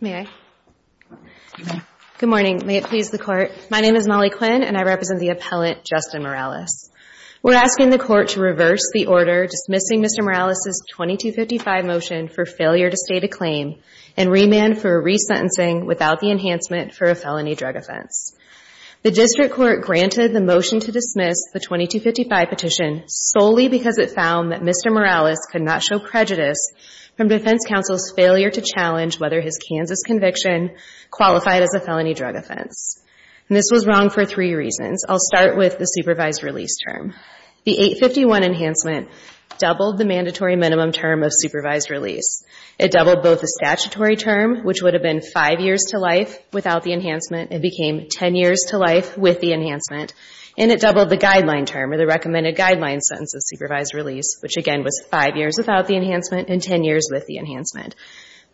May I? Good morning. May it please the court. My name is Molly Quinn, and I represent the appellant, Justin Morales. We're asking the court to reverse the order dismissing Mr. Morales' 2255 motion for failure to state a claim and remand for resentencing without the enhancement for a felony drug offense. The district court granted the motion to dismiss the 2255 petition solely because it found that Mr. Morales could not show prejudice from defense counsel's failure to challenge whether his Kansas conviction qualified as a felony drug offense. And this was wrong for three reasons. I'll start with the supervised release term. The 851 enhancement doubled the mandatory minimum term of supervised release. It doubled both the statutory term, which would have been five years to life without the enhancement. It became 10 years to life with the enhancement. And it doubled the guideline term, or the recommended guideline sentence of supervised release, which again was five years without the enhancement and 10 years with the enhancement.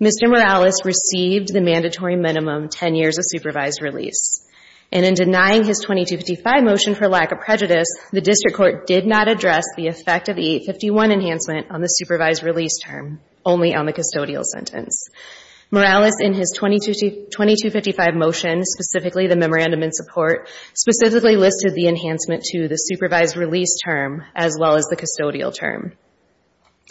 Mr. Morales received the mandatory minimum 10 years of supervised release. And in denying his 2255 motion for lack of prejudice, the district court did not address the effect of the 851 enhancement on the supervised release term, only on the custodial sentence. Morales, in his 2255 motion, specifically the memorandum in support, specifically listed the enhancement to the supervised release term, as well as the custodial term.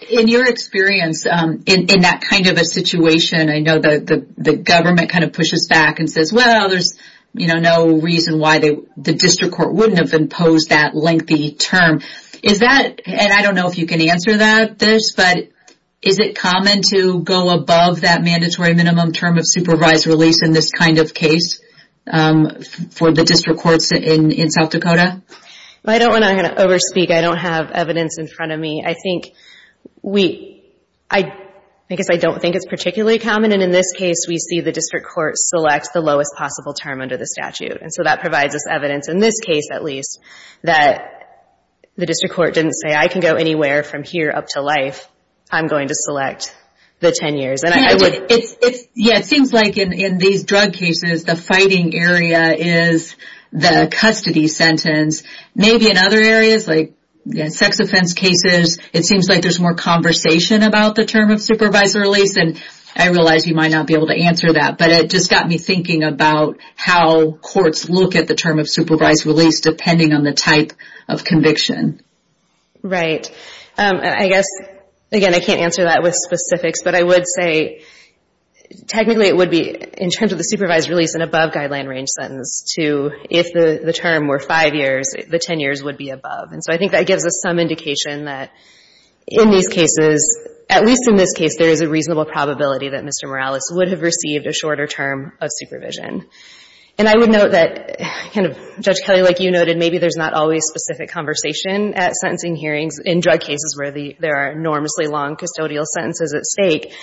In your experience, in that kind of a situation, I know that the government kind of pushes back and says, well, there's no reason why the district court wouldn't have imposed that lengthy term. Is that, and I don't know if you can answer this, but is it common to go above that mandatory minimum term of supervised release in this kind of case for the district courts in South Dakota? I don't want to over speak. I don't have evidence in front of me. I think we, I guess I don't think it's particularly common. And in this case, we see the district court select the lowest possible term under the statute. And so that provides us evidence, in this case at least, that the district court didn't say, I can go anywhere from here up to life. I'm going to select the 10 years. And I would, it's, yeah, it seems like in these drug cases, the fighting area is the custody sentence. Maybe in other areas, like sex offense cases, it seems like there's more conversation about the term of supervised release. And I realize you might not be able to answer that, but it just got me thinking about how courts look at the term of supervised release, depending on the type of conviction. Right, I guess, again, I can't answer that with specifics, but I would say, technically it would be, in terms of the supervised release, an above guideline range sentence to, if the term were five years, the 10 years would be above. And so I think that gives us some indication that in these cases, at least in this case, there is a reasonable probability that Mr. Morales would have received a shorter term of supervision. And I would note that, Judge Kelly, like you noted, maybe there's not always specific conversation at sentencing hearings in drug cases where there are enormously long custodial sentences at stake.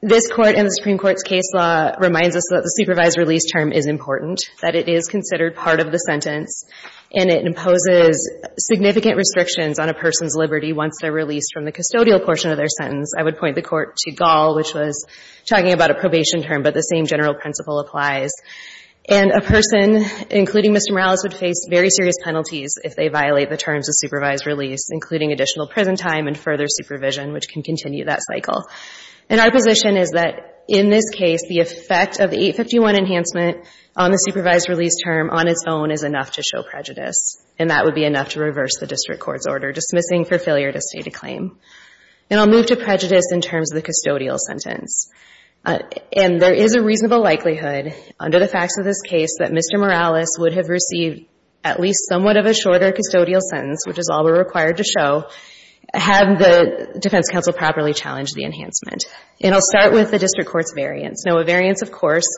This court and the Supreme Court's case law reminds us that the supervised release term is important, that it is considered part of the sentence, and it imposes significant restrictions on a person's liberty once they're released from the custodial portion of their sentence. I would point the court to Gall, which was talking about a probation term, but the same general principle applies. And a person, including Mr. Morales, would face very serious penalties if they violate the terms of supervised release, including additional prison time and further supervision, which can continue that cycle. And our position is that, in this case, the effect of the 851 enhancement on the supervised release term on its own is enough to show prejudice, and that would be enough to reverse the district court's order, dismissing for failure to state a claim. And I'll move to prejudice in terms of the custodial sentence. And there is a reasonable likelihood, under the facts of this case, that Mr. Morales would have received at least somewhat of a shorter custodial sentence, which is all we're required to show, had the defense counsel properly challenged the enhancement. And I'll start with the district court's variance. Now, a variance, of course,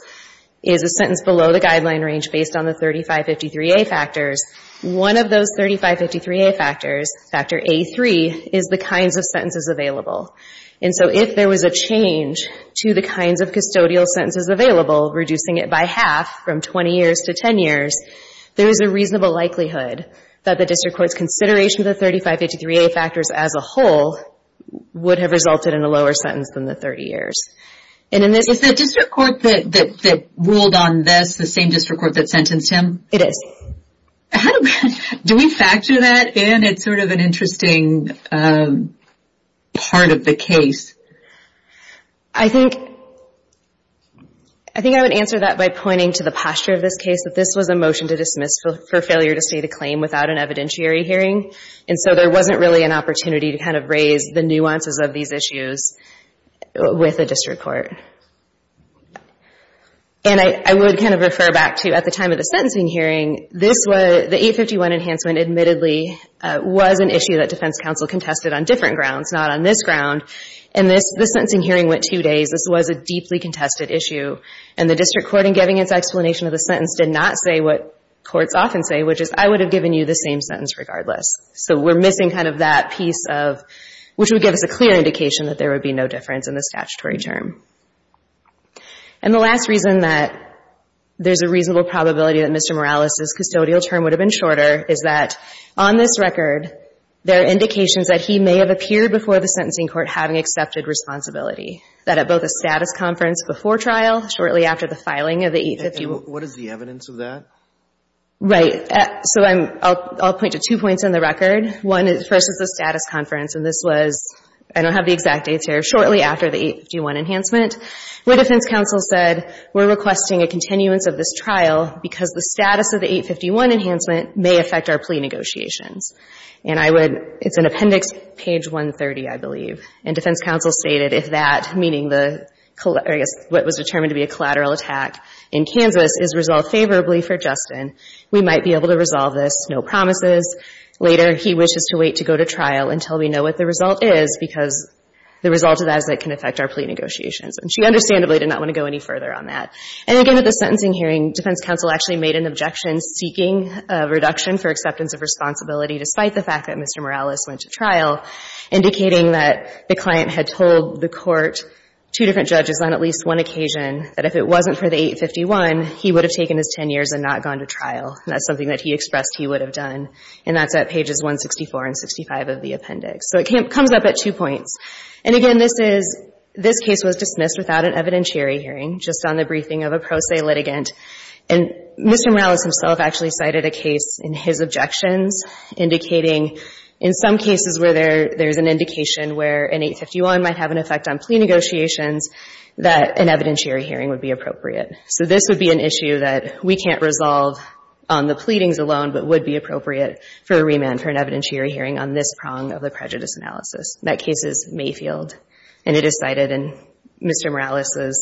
is a sentence below the guideline range based on the 3553A factors. One of those 3553A factors, factor A3, is the kinds of sentences available. And so if there was a change to the kinds of custodial sentences available, reducing it by half from 20 years to 10 years, there is a reasonable likelihood that the district court's consideration of the 3553A factors as a whole would have resulted in a lower sentence than the 30 years. And in this- Is the district court that ruled on this the same district court that sentenced him? It is. Do we factor that in? It's sort of an interesting part of the case. I think I would answer that by pointing to the posture of this case, that this was a motion to dismiss for failure to state a claim without an evidentiary hearing. And so there wasn't really an opportunity to kind of raise the nuances of these issues with the district court. And I would kind of refer back to, at the time of the sentencing hearing, this was, the 851 enhancement admittedly was an issue that defense counsel contested on different grounds, not on this ground. And this sentencing hearing went two days. This was a deeply contested issue. And the district court, in giving its explanation of the sentence, did not say what courts often say, which is, I would have given you the same sentence regardless. So we're missing kind of that piece of, which would give us a clear indication that there would be no difference in the statutory term. And the last reason that there's a reasonable probability that Mr. Morales' custodial term would have been shorter is that, on this record, there are indications that he may have appeared before the sentencing court having accepted responsibility. That at both a status conference before trial, shortly after the filing of the 851. What is the evidence of that? Right. So I'll point to two points in the record. One is, first is the status conference. And this was, I don't have the exact dates here, shortly after the 851 enhancement, where defense counsel said, we're requesting a continuance of this trial because the status of the 851 enhancement may affect our plea negotiations. And I would, it's in appendix page 130, I believe. And defense counsel stated, if that, meaning the, I guess, what was determined to be a collateral attack in Kansas is resolved favorably for Justin, we might be able to resolve this. No promises. Later, he wishes to wait to go to trial until we know what the result is because the result of that is that it can affect our plea negotiations. And she understandably did not want to go any further on that. And again, at the sentencing hearing, defense counsel actually made an objection seeking a reduction for acceptance of responsibility despite the fact that Mr. Morales went to trial, indicating that the client had told the court two different judges on at least one occasion that if it wasn't for the 851, he would have taken his 10 years and not gone to trial. And that's something that he expressed he would have done. And that's at pages 164 and 65 of the appendix. So it comes up at two points. And again, this case was dismissed without an evidentiary hearing, just on the briefing of a pro se litigant. And Mr. Morales himself actually cited a case in his objections, indicating in some cases where there's an indication where an 851 might have an effect on plea negotiations that an evidentiary hearing would be appropriate. So this would be an issue that we can't resolve on the pleadings alone, but would be appropriate for a remand for an evidentiary hearing on this prong of the prejudice analysis. That case is Mayfield. And it is cited in Mr. Morales'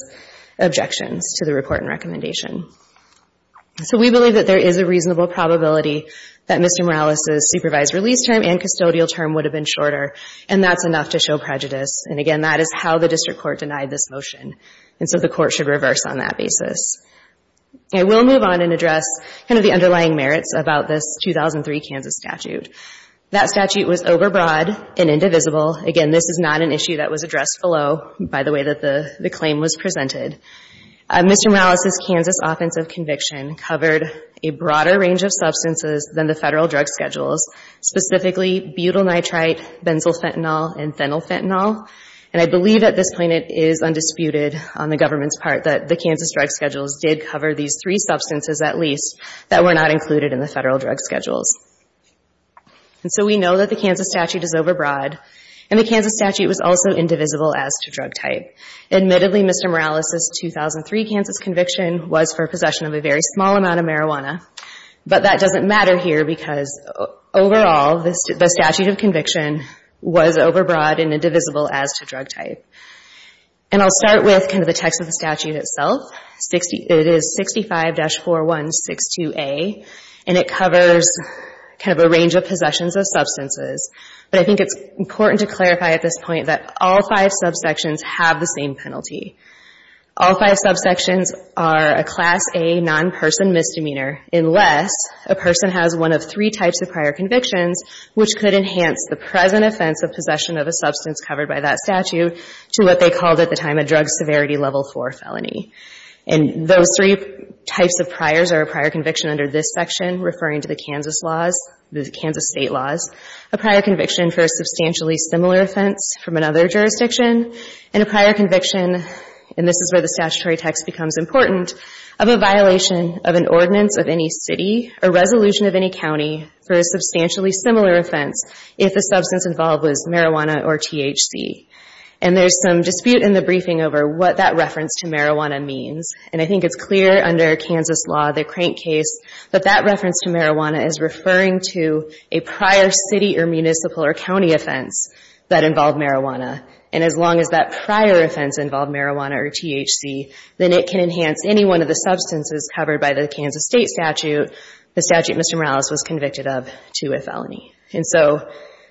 objections to the report and recommendation. So we believe that there is a reasonable probability that Mr. Morales' supervised release term and custodial term would have been shorter. And that's enough to show prejudice. And again, that is how the district court denied this motion and so the court should reverse on that basis. I will move on and address kind of the underlying merits about this 2003 Kansas statute. That statute was overbroad and indivisible. Again, this is not an issue that was addressed below, by the way that the claim was presented. Mr. Morales' Kansas offensive conviction covered a broader range of substances than the federal drug schedules, specifically butyl nitrite, benzyl fentanyl, and phenyl fentanyl. And I believe at this point it is undisputed on the government's part that the Kansas drug schedules did cover these three substances at least that were not included in the federal drug schedules. And so we know that the Kansas statute is overbroad and the Kansas statute was also indivisible as to drug type. Admittedly, Mr. Morales' 2003 Kansas conviction was for possession of a very small amount of marijuana. But that doesn't matter here because overall, the statute of conviction was overbroad and indivisible as to drug type. And I'll start with kind of the text of the statute itself. It is 65-4162A, and it covers kind of a range of possessions of substances. But I think it's important to clarify at this point that all five subsections have the same penalty. All five subsections are a Class A non-person misdemeanor unless a person has one of three types of prior convictions which could enhance the present offense of possession of a substance covered by that statute to what they called at the time a drug severity level four felony. And those three types of priors are a prior conviction under this section referring to the Kansas laws, the Kansas state laws, a prior conviction for a substantially similar offense from another jurisdiction, and a prior conviction, and this is where the statutory text becomes important, of a violation of an ordinance of any city or resolution of any county for a substantially similar offense if the substance involved was marijuana or THC. And there's some dispute in the briefing over what that reference to marijuana means, and I think it's clear under Kansas law, the Crank case, that that reference to marijuana is referring to a prior city or municipal or county offense that involved marijuana. And as long as that prior offense involved marijuana or THC, then it can enhance any one of the substances the statute Mr. Morales was convicted of to a felony. And so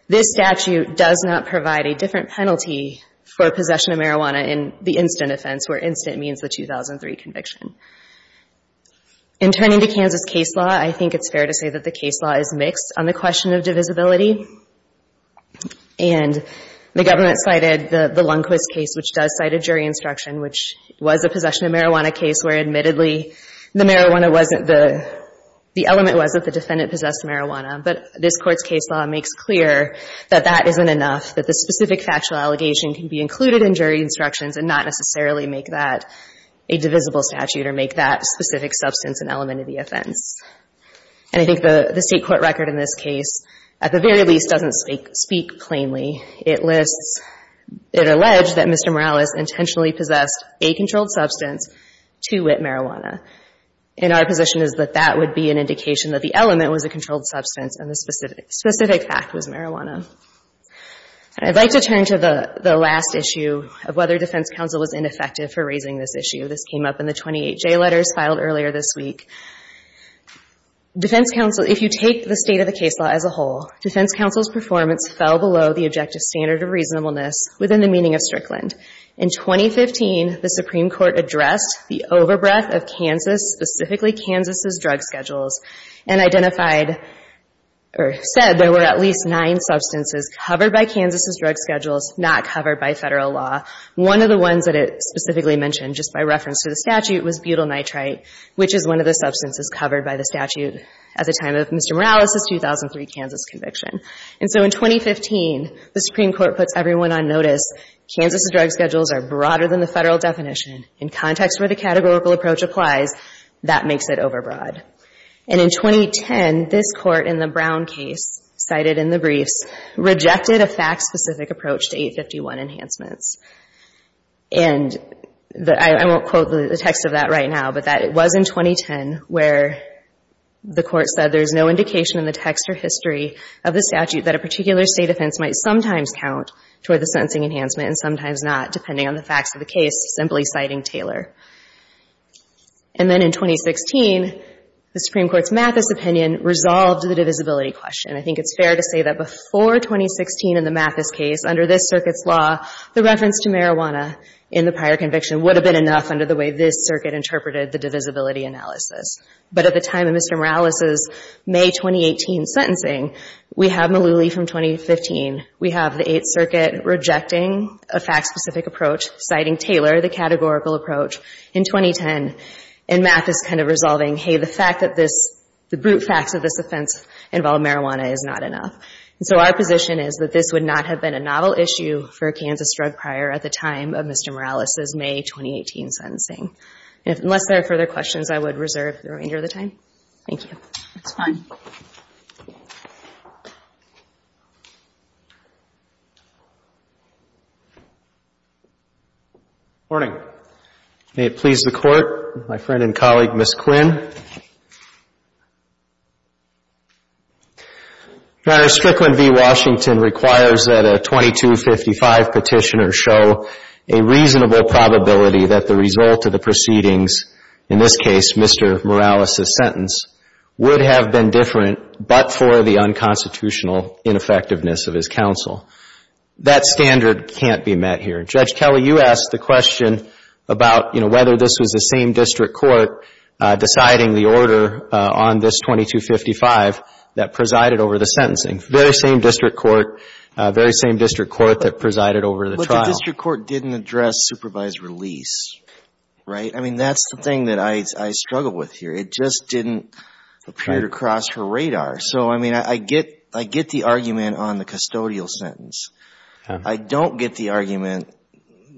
this statute does not provide a different penalty for possession of marijuana in the instant offense where instant means the 2003 conviction. In turning to Kansas case law, I think it's fair to say that the case law is mixed on the question of divisibility. And the government cited the Lundquist case which does cite a jury instruction which was a possession of marijuana case where admittedly the marijuana wasn't the, the element was that the defendant possessed marijuana, but this court's case law makes clear that that isn't enough, that the specific factual allegation can be included in jury instructions and not necessarily make that a divisible statute or make that specific substance an element of the offense. And I think the state court record in this case at the very least doesn't speak plainly. It lists, it alleged that Mr. Morales intentionally possessed a controlled substance to wit marijuana. And our position is that that would be an indication that the element was a controlled substance and the specific fact was marijuana. I'd like to turn to the last issue of whether defense counsel was ineffective for raising this issue. This came up in the 28 J letters filed earlier this week. Defense counsel, if you take the state of the case law as a whole, defense counsel's performance fell below the objective standard of reasonableness within the meaning of Strickland. In 2015, the Supreme Court addressed the overbreath of Kansas, specifically Kansas' drug schedules and identified or said there were at least nine substances covered by Kansas' drug schedules, not covered by federal law. One of the ones that it specifically mentioned just by reference to the statute was butyl nitrite, which is one of the substances covered by the statute at the time of Mr. Morales' 2003 Kansas conviction. And so in 2015, the Supreme Court puts everyone on notice. Kansas' drug schedules are broader than the federal definition. In context where the categorical approach applies, that makes it overbroad. And in 2010, this court in the Brown case, cited in the briefs, rejected a fact-specific approach to 851 enhancements. And I won't quote the text of that right now, but that it was in 2010 where the court said there's no indication in the text or history of the statute that a particular state offense might sometimes count toward the sentencing enhancement and sometimes not, depending on the facts of the case, simply citing Taylor. And then in 2016, the Supreme Court's Mathis opinion resolved the divisibility question. I think it's fair to say that before 2016 in the Mathis case, under this circuit's law, the reference to marijuana in the prior conviction would have been enough under the way this circuit interpreted the divisibility analysis. But at the time of Mr. Morales' May 2018 sentencing, we have Malooly from 2015. We have the Eighth Circuit rejecting a fact-specific approach, citing Taylor, the categorical approach, in 2010. And Mathis kind of resolving, hey, the fact that this, the brute facts of this offense involve marijuana is not enough. So our position is that this would not have been a novel issue for a Kansas drug prior at the time of Mr. Morales' May 2018 sentencing. Unless there are further questions, I would reserve the remainder of the time. Thank you. That's fine. Good morning. May it please the Court, my friend and colleague, Ms. Quinn. Your Honor, Strickland v. Washington requires that a 2255 petitioner show a reasonable probability that the result of the proceedings, in this case, Mr. Morales' sentence, would have been different, but for the unconstitutional ineffectiveness of his counsel. That standard can't be met here. Judge Kelly, you asked the question about whether this was the same district court deciding the order on this 2255 that presided over the sentencing. Very same district court, very same district court that presided over the trial. But the district court didn't address supervised release, right? I mean, that's the thing that I struggle with here. It just didn't appear to cross her radar. So I mean, I get the argument on the custodial sentence. I don't get the argument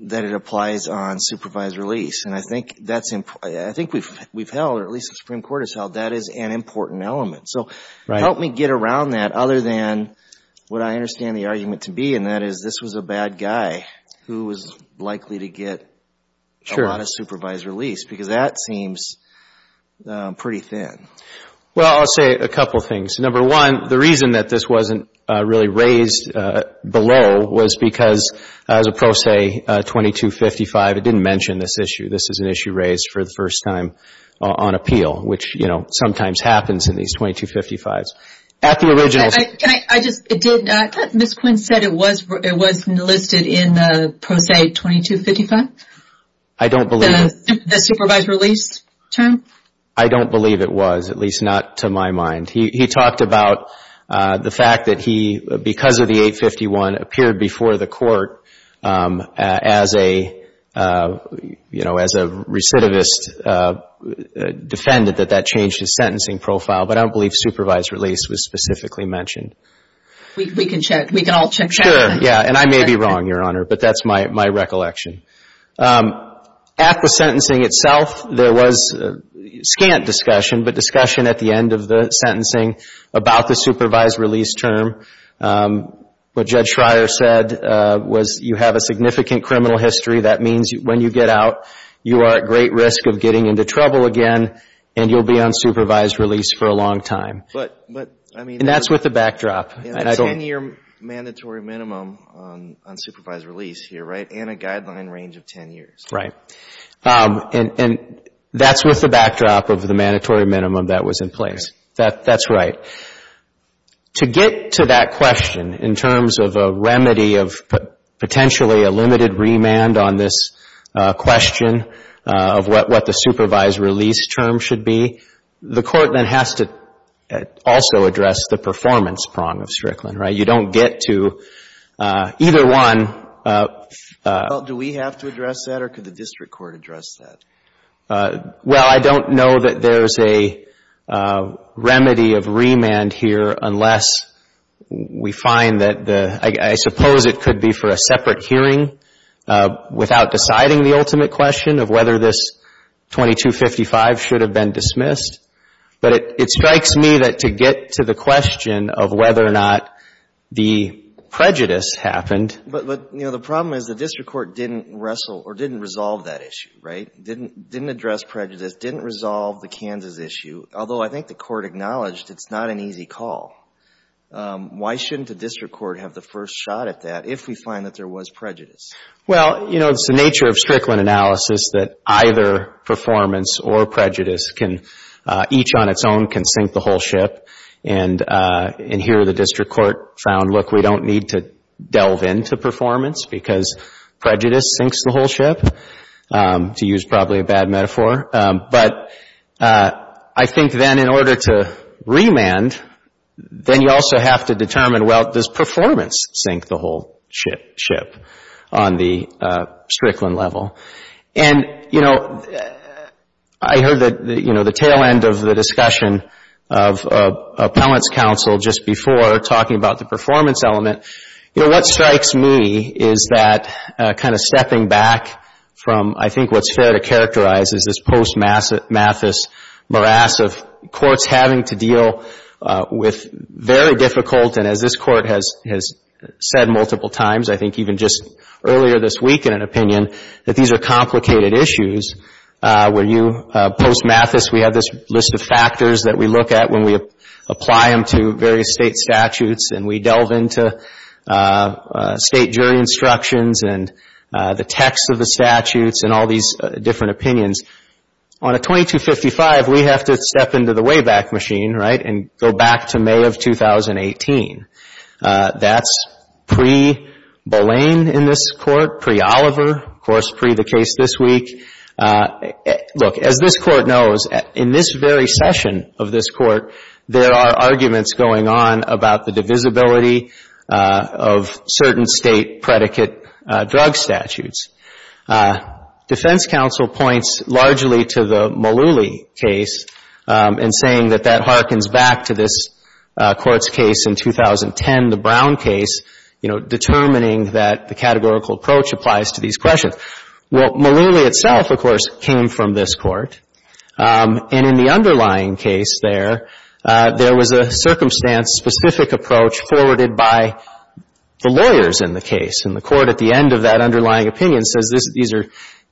that it applies on supervised release. And I think we've held, or at least the Supreme Court has held, that is an important element. So help me get around that, other than what I understand the argument to be, and that is this was a bad guy who was likely to get a lot of supervised release, because that seems pretty thin. Well, I'll say a couple of things. Number one, the reason that this wasn't really raised below was because, as a pro se, 2255, it didn't mention this issue. This is an issue raised for the first time on appeal, which sometimes happens in these 2255s. At the originals. Ms. Quinn said it wasn't listed in the pro se 2255? I don't believe it. The supervised release term? I don't believe it was, at least not to my mind. He talked about the fact that he, because of the 851, appeared before the court as a recidivist defendant, that that changed his sentencing profile. But I don't believe supervised release was specifically mentioned. We can check. We can all check that. Sure, yeah. And I may be wrong, Your Honor, but that's my recollection. At the sentencing itself, there was scant discussion, but discussion at the end of the sentencing about the supervised release term. What Judge Schreier said was, you have a significant criminal history. That means when you get out, you are at great risk of getting into trouble again, and you'll be on supervised release for a long time. And that's with the backdrop. It's a 10-year mandatory minimum on supervised release here, and a guideline range of 10 years. Right. And that's with the backdrop of the mandatory minimum that was in place. That's right. To get to that question, in terms of a remedy of potentially a limited remand on this question of what the supervised release term should be, the court then has to also address the performance prong of Strickland. You don't get to either one. Do we have to address that, or could the district court address that? Well, I don't know that there's a remedy of remand here unless we find that the guy, I suppose it could be for a separate hearing without deciding the ultimate question of whether this 2255 should have been dismissed. But it strikes me that to get to the question of whether or not the prejudice happened. But the problem is the district court didn't wrestle or didn't resolve that issue, right? Didn't address prejudice, didn't resolve the Kansas issue. Although I think the court acknowledged it's not an easy call. Why shouldn't the district court have the first shot at that if we find that there was prejudice? Well, it's the nature of Strickland analysis that either performance or prejudice can, each on its own, can sink the whole ship. And here the district court found, look, we don't need to delve into performance because prejudice sinks the whole ship, to use probably a bad metaphor. But I think then in order to remand, then you also have to determine, well, does performance sink the whole ship on the Strickland level? And I heard the tail end of the discussion of appellant's counsel just before talking about the performance element. You know, what strikes me is that kind of stepping back from I think what's fair to characterize is this post-Mathis morass of courts having to deal with very difficult, and as this court has said multiple times, I think even just earlier this week in an opinion, that these are complicated issues where you post-Mathis, we have this list of factors that we look at when we apply them to various state statutes and we delve into state jury instructions and the text of the statutes and all these different opinions. On a 2255, we have to step into the Wayback Machine, right, and go back to May of 2018. That's pre-Bolaine in this court, pre-Oliver, of course, pre the case this week. Look, as this court knows, in this very session of this court, there are arguments going on about the divisibility of certain state predicate drug statutes. Defense counsel points largely to the Mullooly case in saying that that harkens back to this court's case in 2010, the Brown case, determining that the categorical approach applies to these questions. Well, Mullooly itself, of course, came from this court. And in the underlying case there, there was a circumstance-specific approach forwarded by the lawyers in the case. And the court at the end of that underlying opinion says these are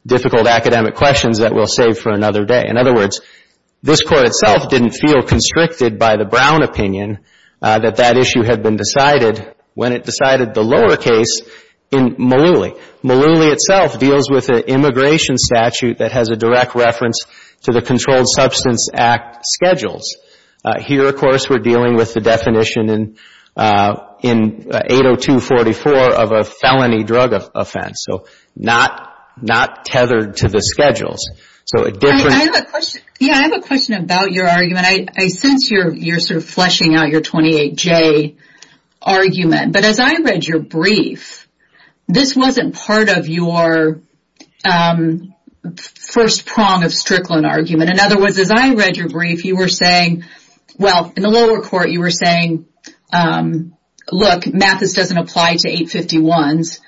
difficult academic questions that we'll save for another day. In other words, this court itself didn't feel constricted by the Brown opinion that that issue had been decided when it decided the lower case in Mullooly. Mullooly itself deals with an immigration statute that has a direct reference to the Controlled Substance Act schedules. Here, of course, we're dealing with the definition in 802-44 of a felony drug offense. So not tethered to the schedules. So a different- Yeah, I have a question about your argument. I sense you're sort of fleshing out your 28J argument. But as I read your brief, this wasn't part of your first prong of Strickland argument. In other words, as I read your brief, you were saying, well, in the lower court, you were saying, look, Mathis doesn't apply to 851s.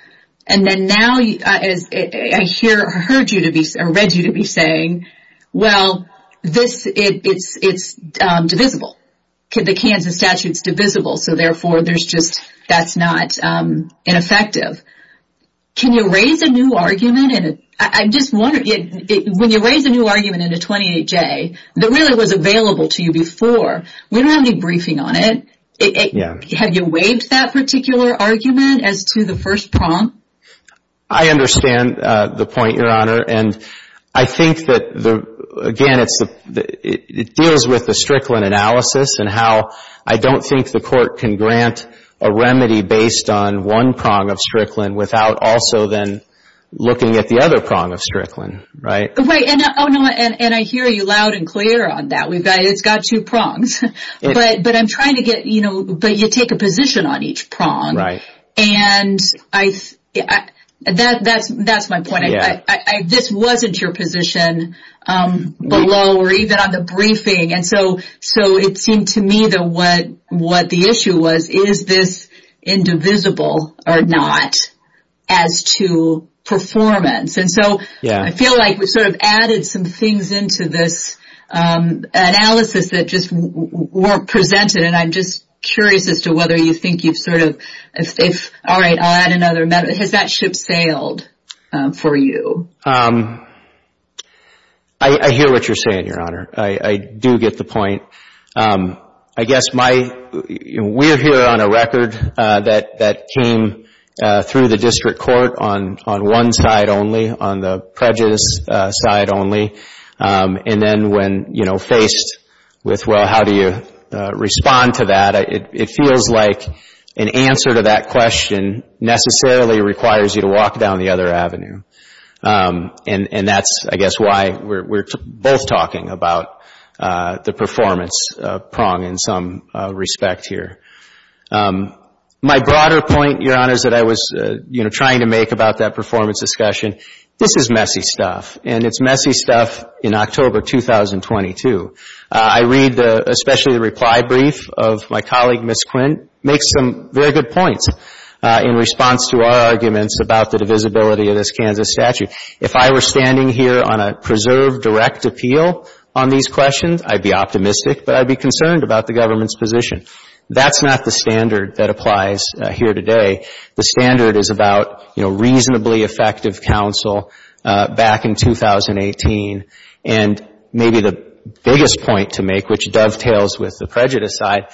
And then now I hear or read you to be saying, well, it's divisible. The Kansas statute's divisible. So therefore, there's just- that's not ineffective. Can you raise a new argument? And I'm just wondering, when you raise a new argument in a 28J that really was available to you before, we don't have any briefing on it. Have you waived that particular argument as to the first prong? I understand the point, Your Honor. And I think that, again, it deals with the Strickland analysis and how I don't think the court can grant a remedy based on one prong of Strickland without also then looking at the other prong of Strickland, right? Right. Oh, no, and I hear you loud and clear on that. We've got- it's got two prongs. But I'm trying to get- but you take a position on each prong. And that's my point. This wasn't your position below or even on the briefing. And so it seemed to me that what the issue was, is this indivisible or not as to performance? And so I feel like we've sort of added some things into this analysis that just weren't presented. And I'm just curious as to whether you think you've sort of- if- all right, I'll add another- has that ship sailed for you? I hear what you're saying, Your Honor. I do get the point. I guess my- we're here on a record that came through the district court on one side only, on the prejudice side only. And then when faced with, well, how do you respond to that? It feels like an answer to that question necessarily requires you to walk down the other avenue. And that's, I guess, why we're both talking about the performance prong in some respect here. My broader point, Your Honor, is that I was, you know, trying to make about that performance discussion. This is messy stuff. And it's messy stuff in October 2022. I read the- especially the reply brief of my colleague, Ms. Quint, makes some very good points in response to our arguments about the divisibility of this Kansas statute. If I were standing here on a preserved direct appeal on these questions, I'd be optimistic. But I'd be concerned about the government's position. That's not the standard that applies here today. The standard is about, you know, reasonably effective counsel back in 2018. And maybe the biggest point to make, which dovetails with the prejudice side,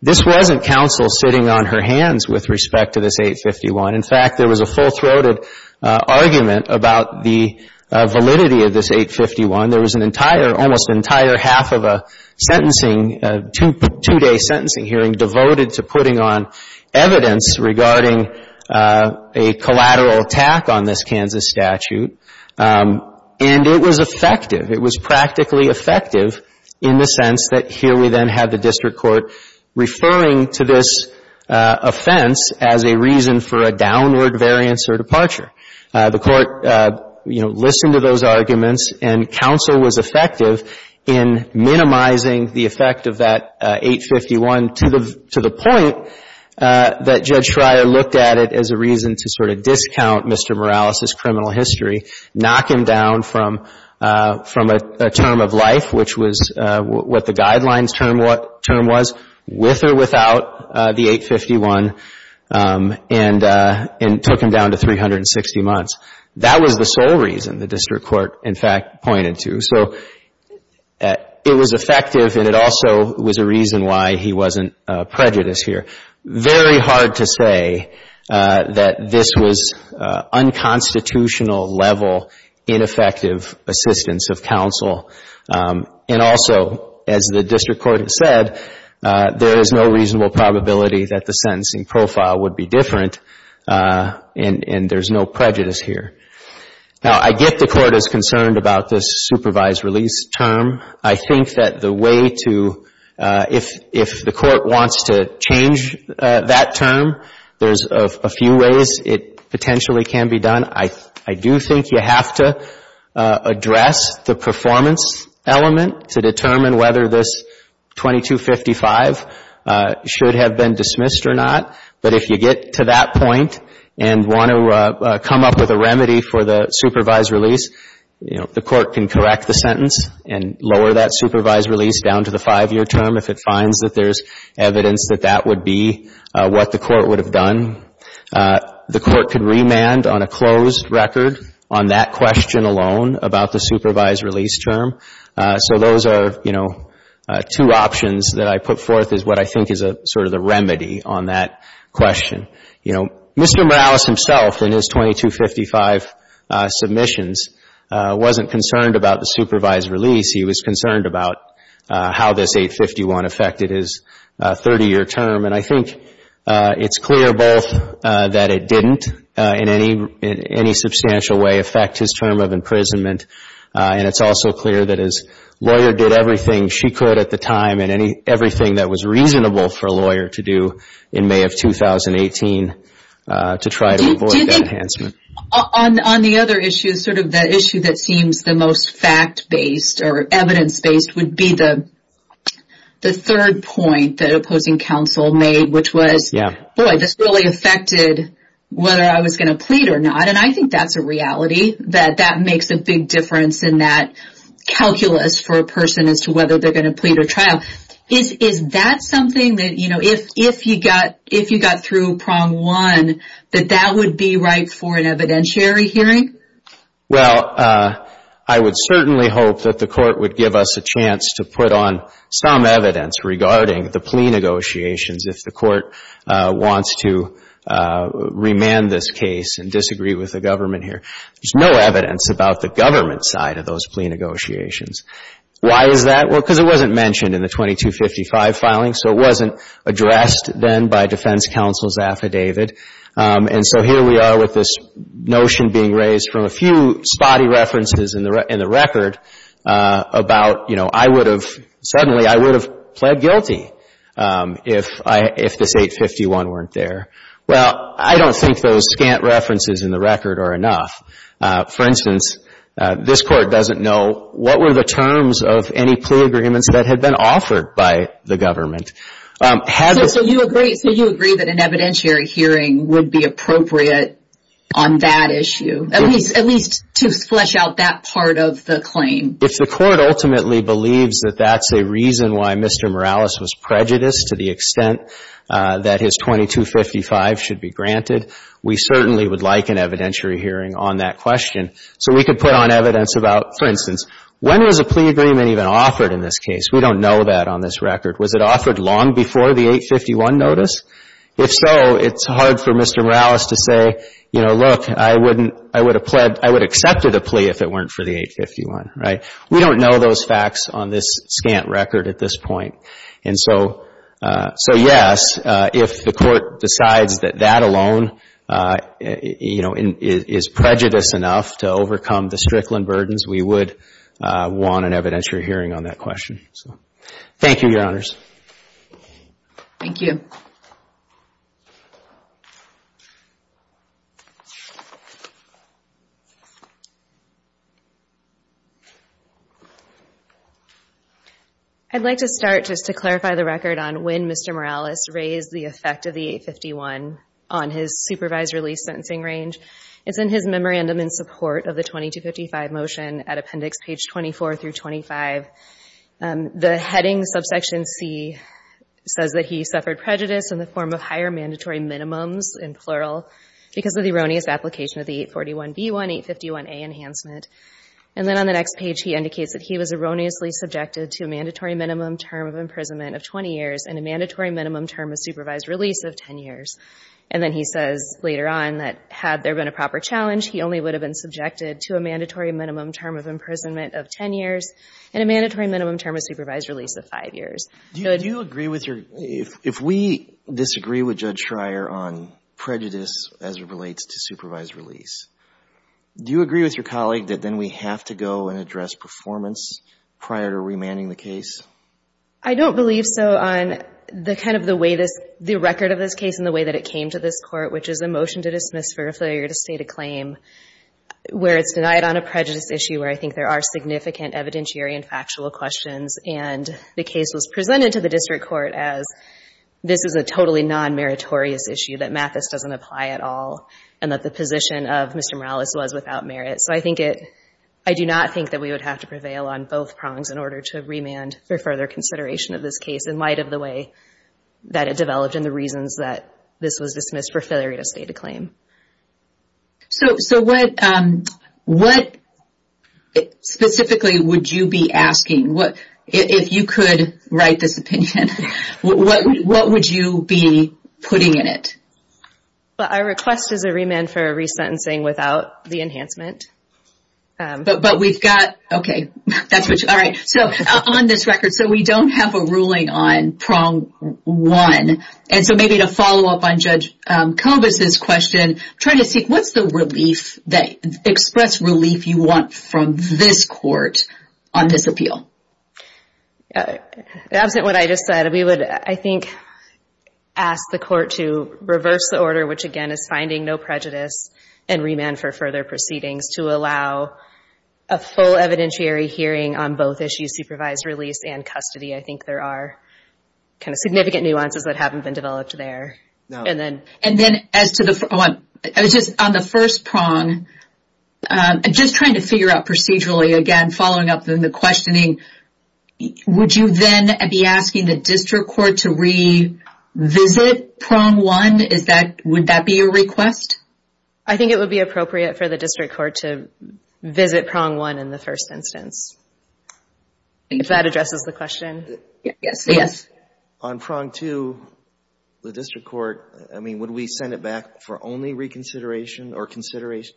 this wasn't counsel sitting on her hands with respect to this 851. In fact, there was a full-throated argument about the validity of this 851. There was an entire, almost entire half of a sentencing, two-day sentencing hearing devoted to putting on evidence regarding a collateral attack on this Kansas statute. And it was effective. It was practically effective in the sense that here we then had the district court referring to this offense as a reason for a downward variance or departure. The court, you know, listened to those arguments. And counsel was effective in minimizing the effect of that 851 to the point that Judge Schreier looked at it as a reason to sort of discount Mr. Morales' criminal history, knock him down from a term of life, which was what the guidelines term was, with or without the 851, and took him down to 360 months. That was the sole reason the district court, in fact, pointed to. So it was effective. And it also was a reason why he wasn't prejudiced here. Very hard to say that this was unconstitutional level ineffective assistance of counsel. And also, as the district court had said, there is no reasonable probability that the sentencing profile would be different. And there's no prejudice here. Now, I get the court is concerned about this supervised release term. I think that the way to, if the court wants to change that term, there's a few ways it potentially can be done. I do think you have to address the performance element to determine whether this 2255 should have been dismissed or not. But if you get to that point and want to come up with a remedy for the supervised release, the court can correct the sentence and lower that supervised release down to the five-year term if it finds that there's evidence that that would be what the court would have done. The court can remand on a closed record on that question alone about the supervised release term. So those are two options that I put forth is what I think is sort of the remedy on that question. Mr. Morales himself in his 2255 submissions wasn't concerned about the supervised release. He was concerned about how this 851 affected his 30-year term. And I think it's clear both that it didn't in any substantial way affect his term of imprisonment. And it's also clear that his lawyer did everything she could at the time and everything that was reasonable for a lawyer to do in May of 2018 to try to avoid that enhancement. On the other issue, sort of the issue that seems the most fact-based or evidence-based would be the third point that opposing counsel made, which was, boy, this really affected whether I was going to plead or not. And I think that's a reality that that makes a big difference in that calculus for a person as to whether they're going to plead or trial. Is that something that if you got through prong one that that would be right for an evidentiary hearing? Well, I would certainly hope that the court would give us a chance to put on some evidence regarding the plea negotiations if the court wants to remand this case and disagree with the government here. There's no evidence about the government side of those plea negotiations. Why is that? Well, because it wasn't mentioned in the 2255 filing. So it wasn't addressed then by defense counsel's affidavit. And so here we are with this notion being raised from a few spotty references in the record about suddenly I would have pled guilty if this 851 weren't there. Well, I don't think those scant references in the record are enough. For instance, this court doesn't know what were the terms of any plea agreements that had been offered by the government. So you agree that an evidentiary hearing would be appropriate on that issue, at least to flesh out that part of the claim. If the court ultimately believes that that's a reason why Mr. Morales was prejudiced to the extent that his 2255 should be granted, we certainly would like an evidentiary hearing on that question. So we could put on evidence about, for instance, when was a plea agreement even offered in this case? We don't know that on this record. Was it offered long before the 851 notice? If so, it's hard for Mr. Morales to say, look, I would have accepted a plea if it weren't for the 851. We don't know those facts on this scant record at this point. And so yes, if the court decides that that alone is prejudiced enough to overcome the Strickland burdens, we would want an evidentiary hearing on that question. Thank you, Your Honors. Thank you. Thank you. I'd like to start just to clarify the record on when Mr. Morales raised the effect of the 851 on his supervised release sentencing range. It's in his memorandum in support of the 2255 motion at appendix page 24 through 25. The heading subsection C says that he suffered prejudice in the form of higher mandatory minimums, in plural, because of the erroneous application of the 841B1, 851A enhancement. And then on the next page, he indicates that he was erroneously subjected to a mandatory minimum term of imprisonment of 20 years and a mandatory minimum term of supervised release of 10 years. And then he says later on that had there been a proper challenge, he only would have been subjected to a mandatory minimum term of imprisonment of 10 years and a mandatory minimum term of supervised release of five years. Do you agree with your, if we disagree with Judge Schreier on prejudice as it relates to supervised release, do you agree with your colleague that then we have to go and address performance prior to remanding the case? I don't believe so on the kind of the way this, the record of this case and the way that it came to this court, which is a motion to dismiss for a failure to state a claim, where it's denied on a prejudice issue where I think there are significant evidentiary and factual questions. And the case was presented to the district court as this is a totally non-meritorious issue that Mathis doesn't apply at all. And that the position of Mr. Morales was without merit. So I think it, I do not think that we would have to prevail on both prongs in order to remand for further consideration of this case in light of the way that it developed and the reasons that this was dismissed for failure to state a claim. So what specifically would you be asking? If you could write this opinion, what would you be putting in it? Well, our request is a remand for resentencing without the enhancement. But we've got, okay, that's what you, all right. So on this record, so we don't have a ruling on prong one. And so maybe to follow up on Judge Cobus' question, trying to see what's the relief that, from this court, on this appeal. Absent what I just said, we would, I think, ask the court to reverse the order, which again is finding no prejudice and remand for further proceedings to allow a full evidentiary hearing on both issues, supervised release and custody. I think there are kind of significant nuances that haven't been developed there. And then as to the, I was just, on the first prong, just trying to figure out procedurally, again, following up on the questioning, would you then be asking the district court to revisit prong one? Is that, would that be your request? I think it would be appropriate for the district court to visit prong one in the first instance. If that addresses the question. Yes, yes. On prong two, the district court, I mean, would we send it back for only reconsideration or consideration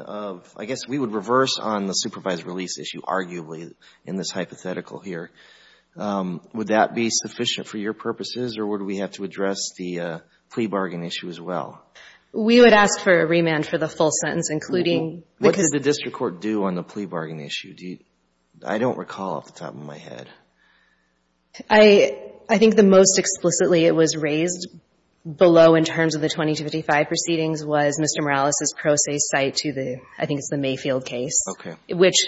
of, I guess we would reverse on the supervised release issue, arguably, in this hypothetical here. Would that be sufficient for your purposes or would we have to address the plea bargain issue as well? We would ask for a remand for the full sentence, including because- What did the district court do on the plea bargain issue? I don't recall off the top of my head. I think the most explicitly it was raised below in terms of the 20 to 55 proceedings was Mr. Morales' pro se cite to the, I think it's the Mayfield case, which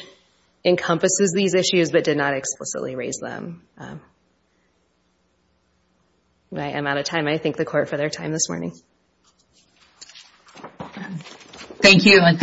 encompasses these issues, but did not explicitly raise them. I am out of time. I thank the court for their time this morning. Thank you.